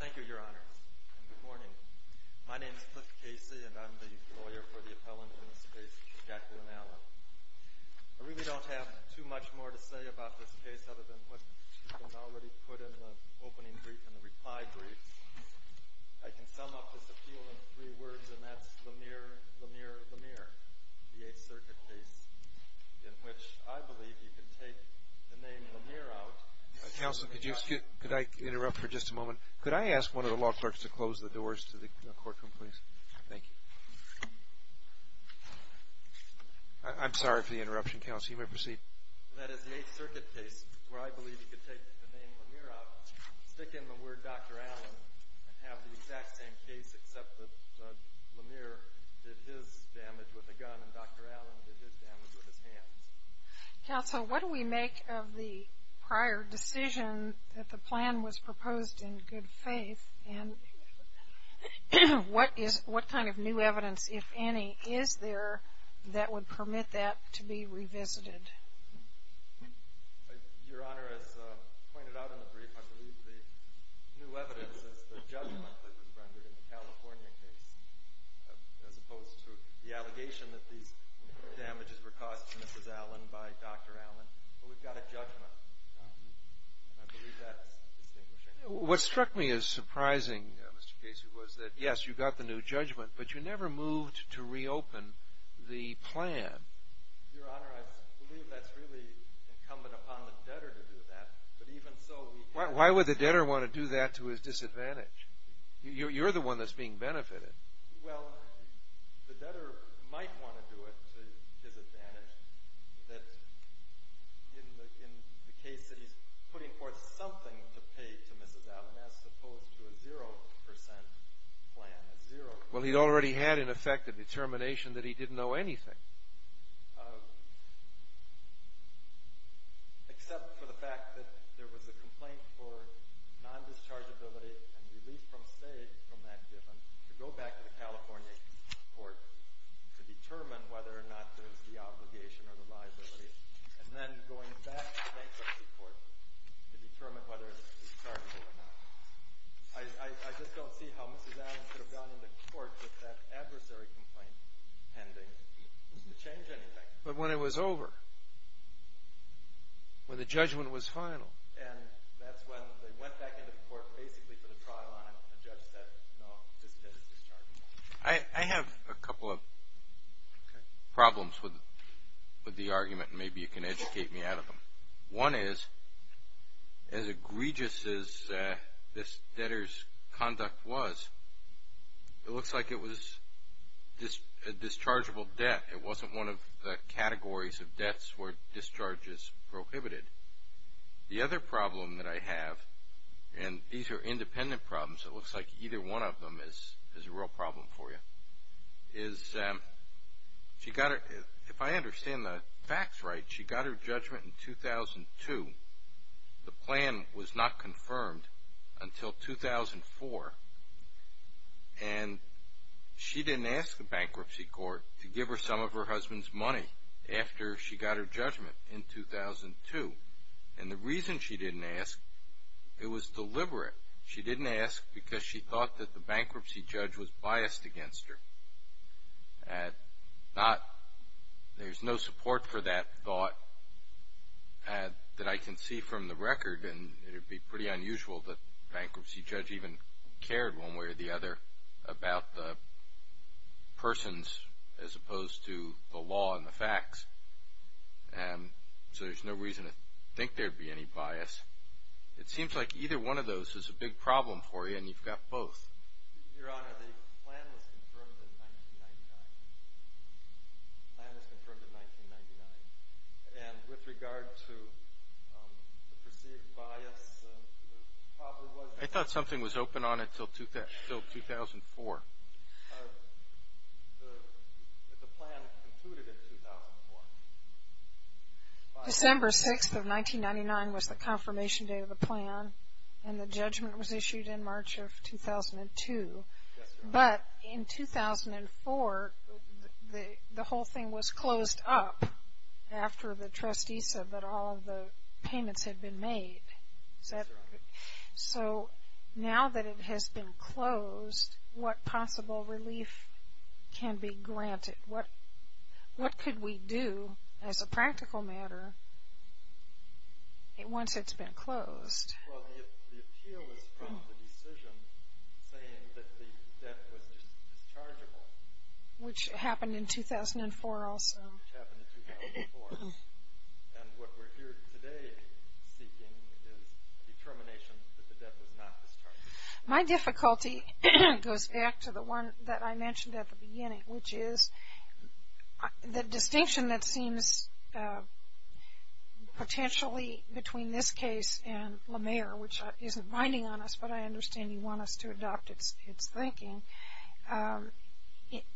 Thank you, Your Honor, and good morning. My name is Cliff Casey, and I'm the lawyer for the appellant in this case, Jacqueline Allen. I really don't have too much more to say about this case other than what has already been put in the opening brief and the reply brief. I can sum up this appeal in three words, and that's Lemire, Lemire, Lemire, the Eighth Circuit case, in which I believe you can take the name Lemire out. Counsel, could I interrupt for just a moment? Could I ask one of the law clerks to close the doors to the courtroom, please? Thank you. I'm sorry for the interruption, counsel. You may proceed. That is the Eighth Circuit case, where I believe you can take the name Lemire out, stick in the word Dr. Allen, and have the exact same case except that Lemire did his damage with a gun and Dr. Allen did his damage with his hands. Counsel, what do we make of the prior decision that the plan was proposed in good faith, and what kind of new evidence, if any, is there that would permit that to be revisited? Your Honor, as pointed out in the brief, I believe the new evidence is the judgment that was rendered in the California case, as opposed to the allegation that these damages were caused to Mrs. Allen by Dr. Allen. We've got a judgment, and I believe that's distinguishing. What struck me as surprising, Mr. Casey, was that, yes, you got the new judgment, but you never moved to reopen the plan. Your Honor, I believe that's really incumbent upon the debtor to do that, but even so… Why would the debtor want to do that to his disadvantage? You're the one that's being benefited. Well, the debtor might want to do it to his advantage in the case that he's putting forth something to pay to Mrs. Allen, as opposed to a zero-percent plan, a zero-percent plan. Well, he'd already had, in effect, a determination that he didn't know anything. Except for the fact that there was a complaint for non-dischargeability and relief from state from that judgment to go back to the California court to determine whether or not there's the obligation or the liability, and then going back to bankruptcy court to determine whether it's dischargeable or not. I just don't see how Mrs. Allen could have gone into court with that adversary complaint pending to change anything. But when it was over, when the judgment was final… And that's when they went back into court, basically put a trial on it, and the judge said, no, this debt is dischargeable. I have a couple of problems with the argument, and maybe you can educate me out of them. One is, as egregious as this debtor's conduct was, it looks like it was a dischargeable debt. It wasn't one of the categories of debts where discharge is prohibited. The other problem that I have, and these are independent problems. It looks like either one of them is a real problem for you. If I understand the facts right, she got her judgment in 2002. The plan was not confirmed until 2004, and she didn't ask the bankruptcy court to give her some of her husband's money after she got her judgment in 2002. And the reason she didn't ask, it was deliberate. She didn't ask because she thought that the bankruptcy judge was biased against her. There's no support for that thought that I can see from the record, and it would be pretty unusual that the bankruptcy judge even cared, one way or the other, about the persons as opposed to the law and the facts. So there's no reason to think there would be any bias. It seems like either one of those is a big problem for you, and you've got both. Your Honor, the plan was confirmed in 1999. The plan was confirmed in 1999. And with regard to the perceived bias, the problem was... I thought something was open on it until 2004. The plan concluded in 2004. December 6th of 1999 was the confirmation date of the plan, and the judgment was issued in March of 2002. But in 2004, the whole thing was closed up after the trustee said that all the payments had been made. So now that it has been closed, what possible relief can be granted? What could we do as a practical matter once it's been closed? Well, the appeal is from the decision saying that the debt was dischargeable. Which happened in 2004 also. Which happened in 2004. And what we're here today seeking is determination that the debt was not dischargeable. My difficulty goes back to the one that I mentioned at the beginning, which is the distinction that seems potentially between this case and LaMere, which isn't binding on us, but I understand you want us to adopt its thinking.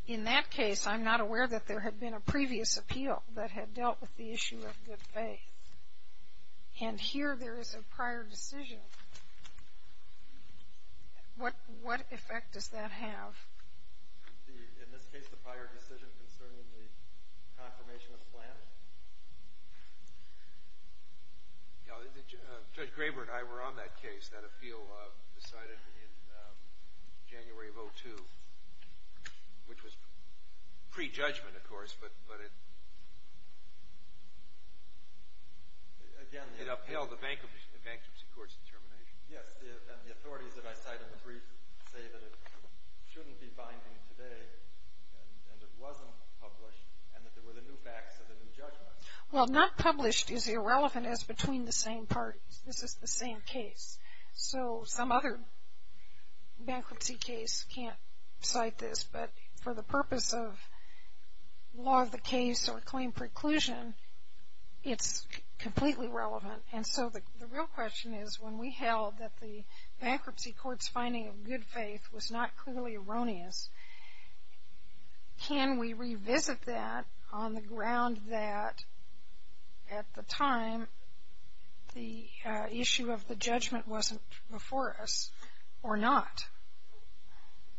In that case, I'm not aware that there had been a previous appeal that had dealt with the issue of good faith. And here there is a prior decision. What effect does that have? In this case, the prior decision concerning the confirmation of the plan? Judge Graber and I were on that case, that appeal decided in January of 2002, which was pre-judgment, of course, but it upheld the bankruptcy court's determination. Yes, and the authorities that I cite in the brief say that it shouldn't be binding today and it wasn't published and that there were the new facts of the new judgment. Well, not published is irrelevant as between the same parties. This is the same case. So some other bankruptcy case can't cite this, but for the purpose of law of the case or claim preclusion, it's completely relevant. And so the real question is when we held that the bankruptcy court's finding of good faith was not clearly erroneous, can we revisit that on the ground that at the time the issue of the judgment wasn't before us or not?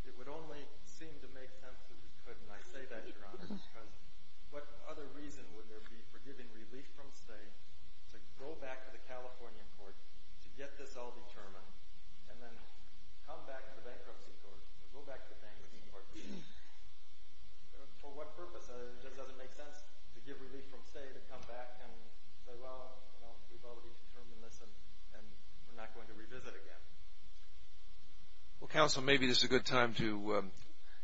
It would only seem to make sense that we could, and I say that, Your Honor, because what other reason would there be for giving relief from stay to go back to the Californian court to get this all determined and then come back to the bankruptcy court or go back to the bankruptcy court? For what purpose? It just doesn't make sense to give relief from stay to come back and say, well, we've already determined this and we're not going to revisit again. Well, counsel, maybe this is a good time to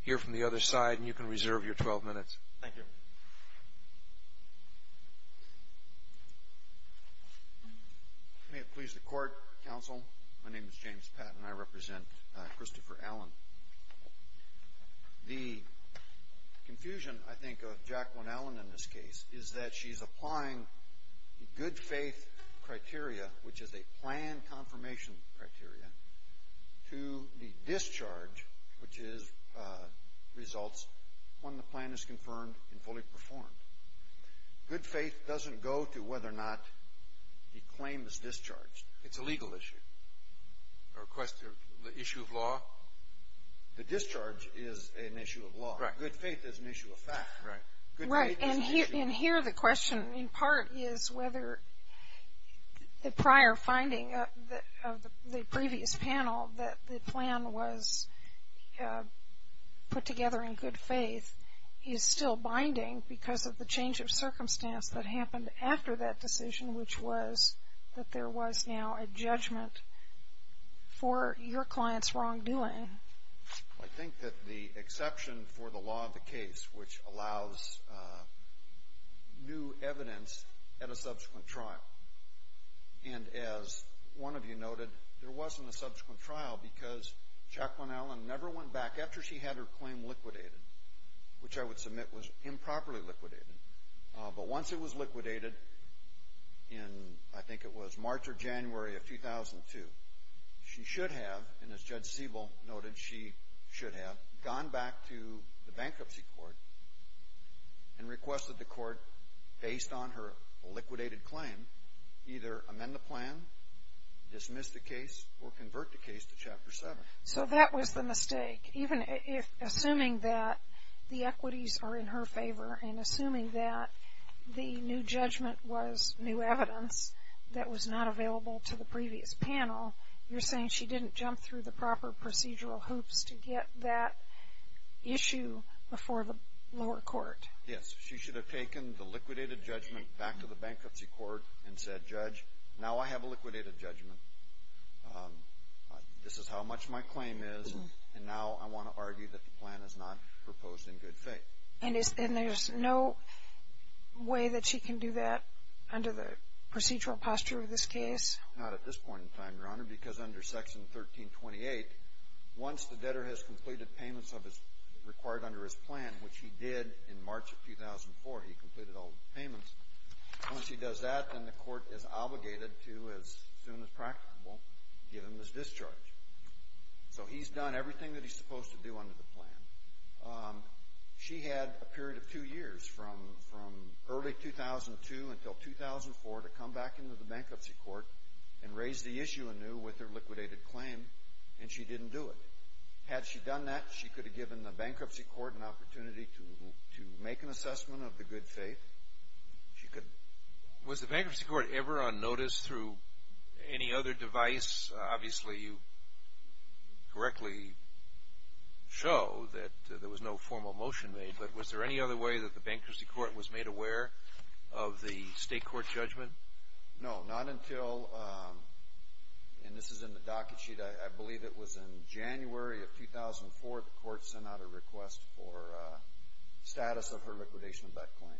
hear from the other side, and you can reserve your 12 minutes. Thank you. May it please the court, counsel. My name is James Patton. I represent Christopher Allen. The confusion, I think, of Jacqueline Allen in this case is that she's applying the good faith criteria, which is a plan confirmation criteria, to the discharge, which results when the plan is confirmed and fully performed. Good faith doesn't go to whether or not the claim is discharged. It's a legal issue. The issue of law? The discharge is an issue of law. Right. Good faith is an issue of fact. Right. And here the question in part is whether the prior finding of the previous panel, that the plan was put together in good faith, is still binding because of the change of circumstance that happened after that for your client's wrongdoing. I think that the exception for the law of the case, which allows new evidence at a subsequent trial, and as one of you noted, there wasn't a subsequent trial because Jacqueline Allen never went back after she had her claim liquidated, which I would submit was improperly liquidated. But once it was liquidated in, I think it was March or January of 2002, she should have, and as Judge Siebel noted, she should have gone back to the bankruptcy court and requested the court, based on her liquidated claim, either amend the plan, dismiss the case, or convert the case to Chapter 7. So that was the mistake. Assuming that the equities are in her favor and assuming that the new judgment was new evidence that was not available to the previous panel, you're saying she didn't jump through the proper procedural hoops to get that issue before the lower court. Yes. She should have taken the liquidated judgment back to the bankruptcy court and said, Judge, now I have a liquidated judgment. This is how much my claim is, and now I want to argue that the plan is not proposed in good faith. And there's no way that she can do that under the procedural posture of this case? Not at this point in time, Your Honor, because under Section 1328, once the debtor has completed payments required under his plan, which he did in March of 2004, he completed all the payments. Once he does that, then the court is obligated to, as soon as practicable, give him his discharge. So he's done everything that he's supposed to do under the plan. She had a period of two years, from early 2002 until 2004, to come back into the bankruptcy court and raise the issue anew with her liquidated claim, and she didn't do it. Had she done that, she could have given the bankruptcy court an opportunity to make an assessment of the good faith. Was the bankruptcy court ever on notice through any other device? Obviously, you correctly show that there was no formal motion made, but was there any other way that the bankruptcy court was made aware of the state court judgment? No, not until, and this is in the docket sheet, I believe it was in January of 2004, the court sent out a request for status of her liquidation of that claim.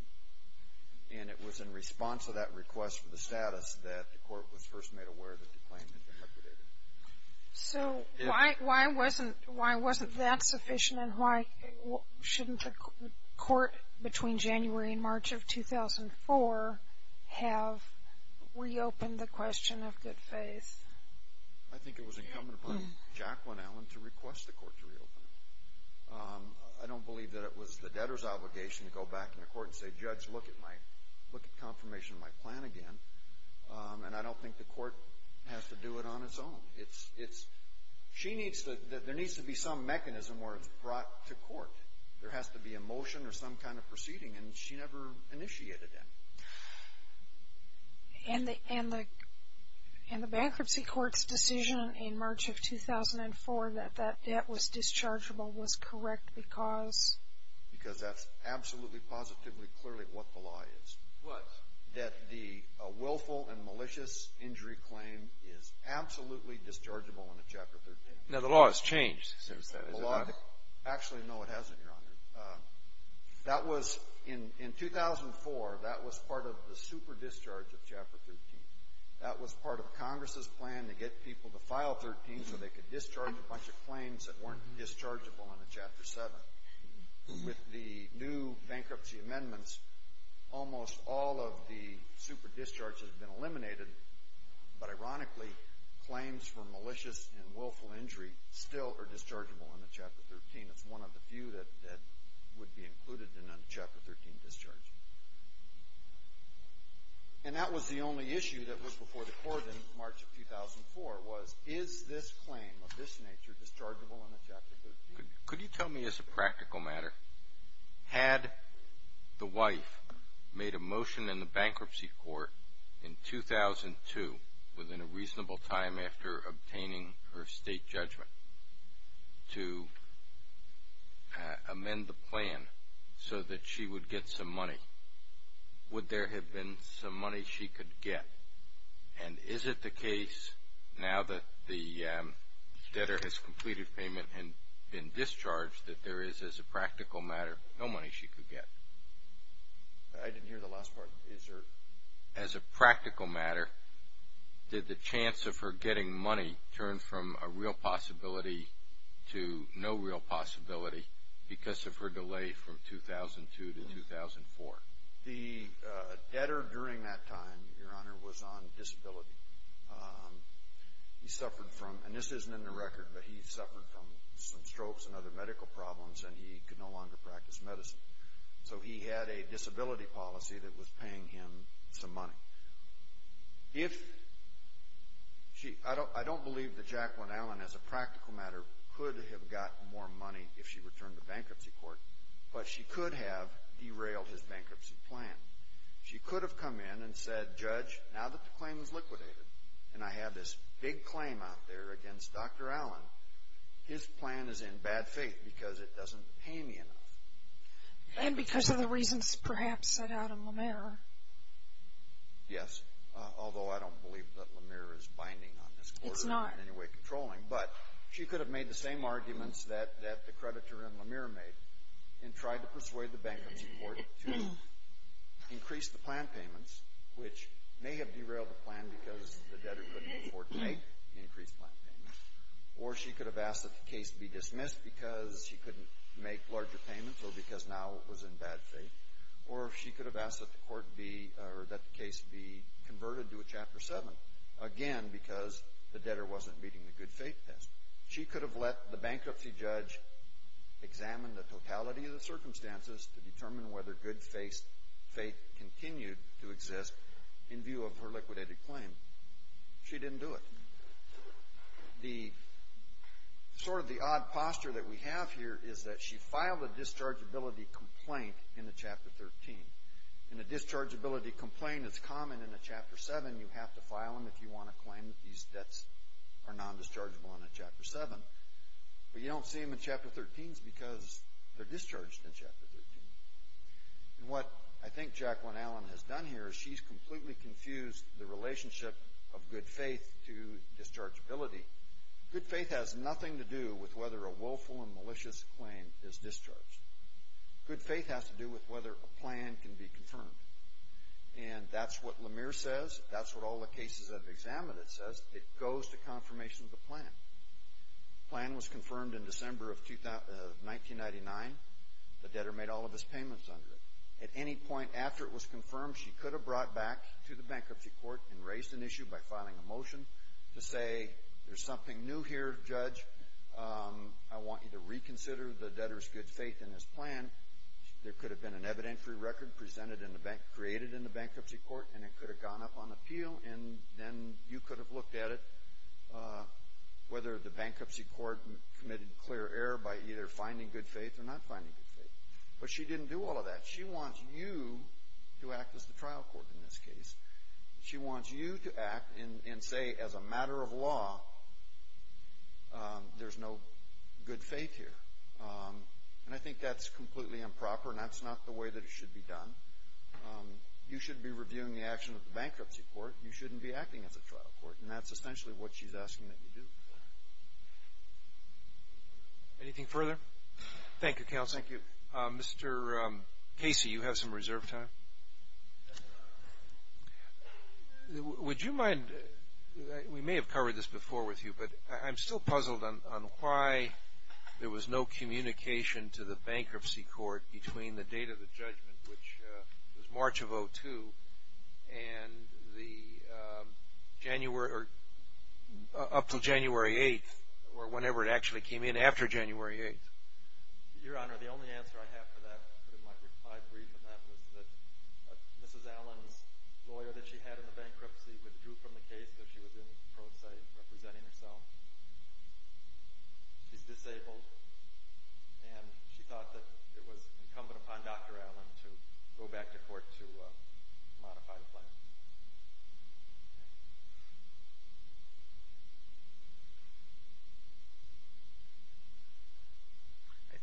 And it was in response to that request for the status that the court was first made aware that the claim had been liquidated. So why wasn't that sufficient, and why shouldn't the court, between January and March of 2004, have reopened the question of good faith? I think it was incumbent upon Jacqueline Allen to request the court to reopen it. I don't believe that it was the debtor's obligation to go back in the court and say, Judge, look at confirmation of my plan again. And I don't think the court has to do it on its own. There needs to be some mechanism where it's brought to court. There has to be a motion or some kind of proceeding, and she never initiated any. And the bankruptcy court's decision in March of 2004 that that debt was dischargeable was correct because? Because that's absolutely, positively, clearly what the law is. What? That the willful and malicious injury claim is absolutely dischargeable under Chapter 13. Now, the law has changed since then, has it not? Actually, no, it hasn't, Your Honor. In 2004, that was part of the super discharge of Chapter 13. That was part of Congress's plan to get people to file 13 so they could discharge a bunch of claims that weren't dischargeable under Chapter 7. With the new bankruptcy amendments, almost all of the super discharges have been eliminated, but ironically, claims for malicious and willful injury still are dischargeable under Chapter 13. That's one of the few that would be included in a Chapter 13 discharge. And that was the only issue that was before the court in March of 2004 was, is this claim of this nature dischargeable under Chapter 13? Could you tell me as a practical matter, had the wife made a motion in the bankruptcy court in 2002, within a reasonable time after obtaining her state judgment, to amend the plan so that she would get some money, would there have been some money she could get? And is it the case now that the debtor has completed payment and been discharged that there is, as a practical matter, no money she could get? I didn't hear the last part. Is there, as a practical matter, did the chance of her getting money turn from a real possibility to no real possibility because of her delay from 2002 to 2004? The debtor during that time, Your Honor, was on disability. He suffered from, and this isn't in the record, but he suffered from some strokes and other medical problems and he could no longer practice medicine. So he had a disability policy that was paying him some money. I don't believe that Jacqueline Allen, as a practical matter, could have gotten more money if she returned to bankruptcy court, but she could have derailed his bankruptcy plan. She could have come in and said, Judge, now that the claim is liquidated and I have this big claim out there against Dr. Allen, his plan is in bad faith because it doesn't pay me enough. And because of the reasons, perhaps, set out in Lemire. Yes, although I don't believe that Lemire is binding on this court or in any way controlling, but she could have made the same arguments that the creditor in Lemire made and tried to persuade the bankruptcy court to increase the plan payments, which may have derailed the plan because the debtor couldn't afford to make increased plan payments, or she could have asked that the case be dismissed because she couldn't make larger payments or because now it was in bad faith, or she could have asked that the case be converted to a Chapter 7, again because the debtor wasn't meeting the good faith test. She could have let the bankruptcy judge examine the totality of the circumstances to determine whether good faith continued to exist in view of her liquidated claim. She didn't do it. The sort of the odd posture that we have here is that she filed a dischargeability complaint in the Chapter 13. And a dischargeability complaint is common in a Chapter 7. You have to file them if you want to claim that these debts are non-dischargeable in a Chapter 7. But you don't see them in Chapter 13s because they're discharged in Chapter 13. And what I think Jacqueline Allen has done here is she's completely confused the relationship of good faith to dischargeability. Good faith has nothing to do with whether a willful and malicious claim is discharged. Good faith has to do with whether a plan can be confirmed. And that's what Lemire says. That's what all the cases I've examined, it says. It goes to confirmation of the plan. The plan was confirmed in December of 1999. The debtor made all of his payments under it. At any point after it was confirmed, she could have brought back to the bankruptcy court and raised an issue by filing a motion to say, there's something new here, Judge. I want you to reconsider the debtor's good faith in his plan. There could have been an evidentiary record presented in the bank, created in the bankruptcy court, and it could have gone up on appeal. And then you could have looked at it, whether the bankruptcy court committed clear error by either finding good faith or not finding good faith. But she didn't do all of that. She wants you to act as the trial court in this case. She wants you to act and say, as a matter of law, there's no good faith here. And I think that's completely improper, and that's not the way that it should be done. You should be reviewing the action of the bankruptcy court. You shouldn't be acting as a trial court. And that's essentially what she's asking that you do. Anything further? Thank you, counsel. Thank you. Mr. Casey, you have some reserve time. Would you mind – we may have covered this before with you, but I'm still puzzled on why there was no communication to the bankruptcy court between the date of the judgment, which was March of 2002, and the January – up to January 8th, or whenever it actually came in after January 8th. Your Honor, the only answer I have for that, in my brief on that, was that Mrs. Allen's lawyer that she had in the bankruptcy withdrew from the case because she was in pro se representing herself. She's disabled, and she thought that it was incumbent upon Dr. Allen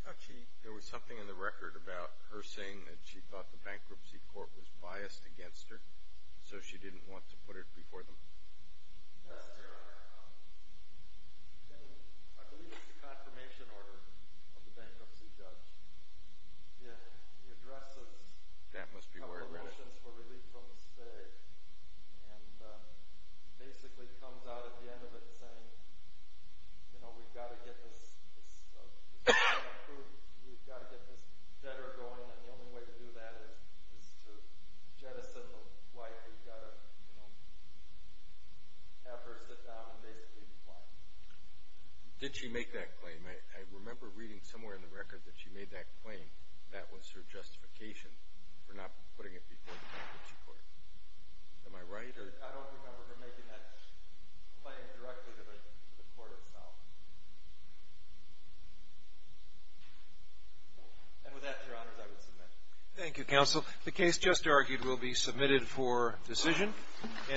I thought there was something in the record about her saying that she thought the bankruptcy court was biased against her, so she didn't want to put it before them. That's true. I believe it's a confirmation order of the bankruptcy judge. It addresses a couple of motions for relief from the state and basically comes out at the end of it saying, you know, we've got to get this debtor going, and the only way to do that is to jettison the wife. We've got to have her sit down and basically decline. Did she make that claim? I remember reading somewhere in the record that she made that claim that was her justification for not putting it before the bankruptcy court. Am I right? I don't remember her making that claim directly to the court itself. And with that, Your Honors, I will submit. Thank you, Counsel. The case just argued will be submitted for decision.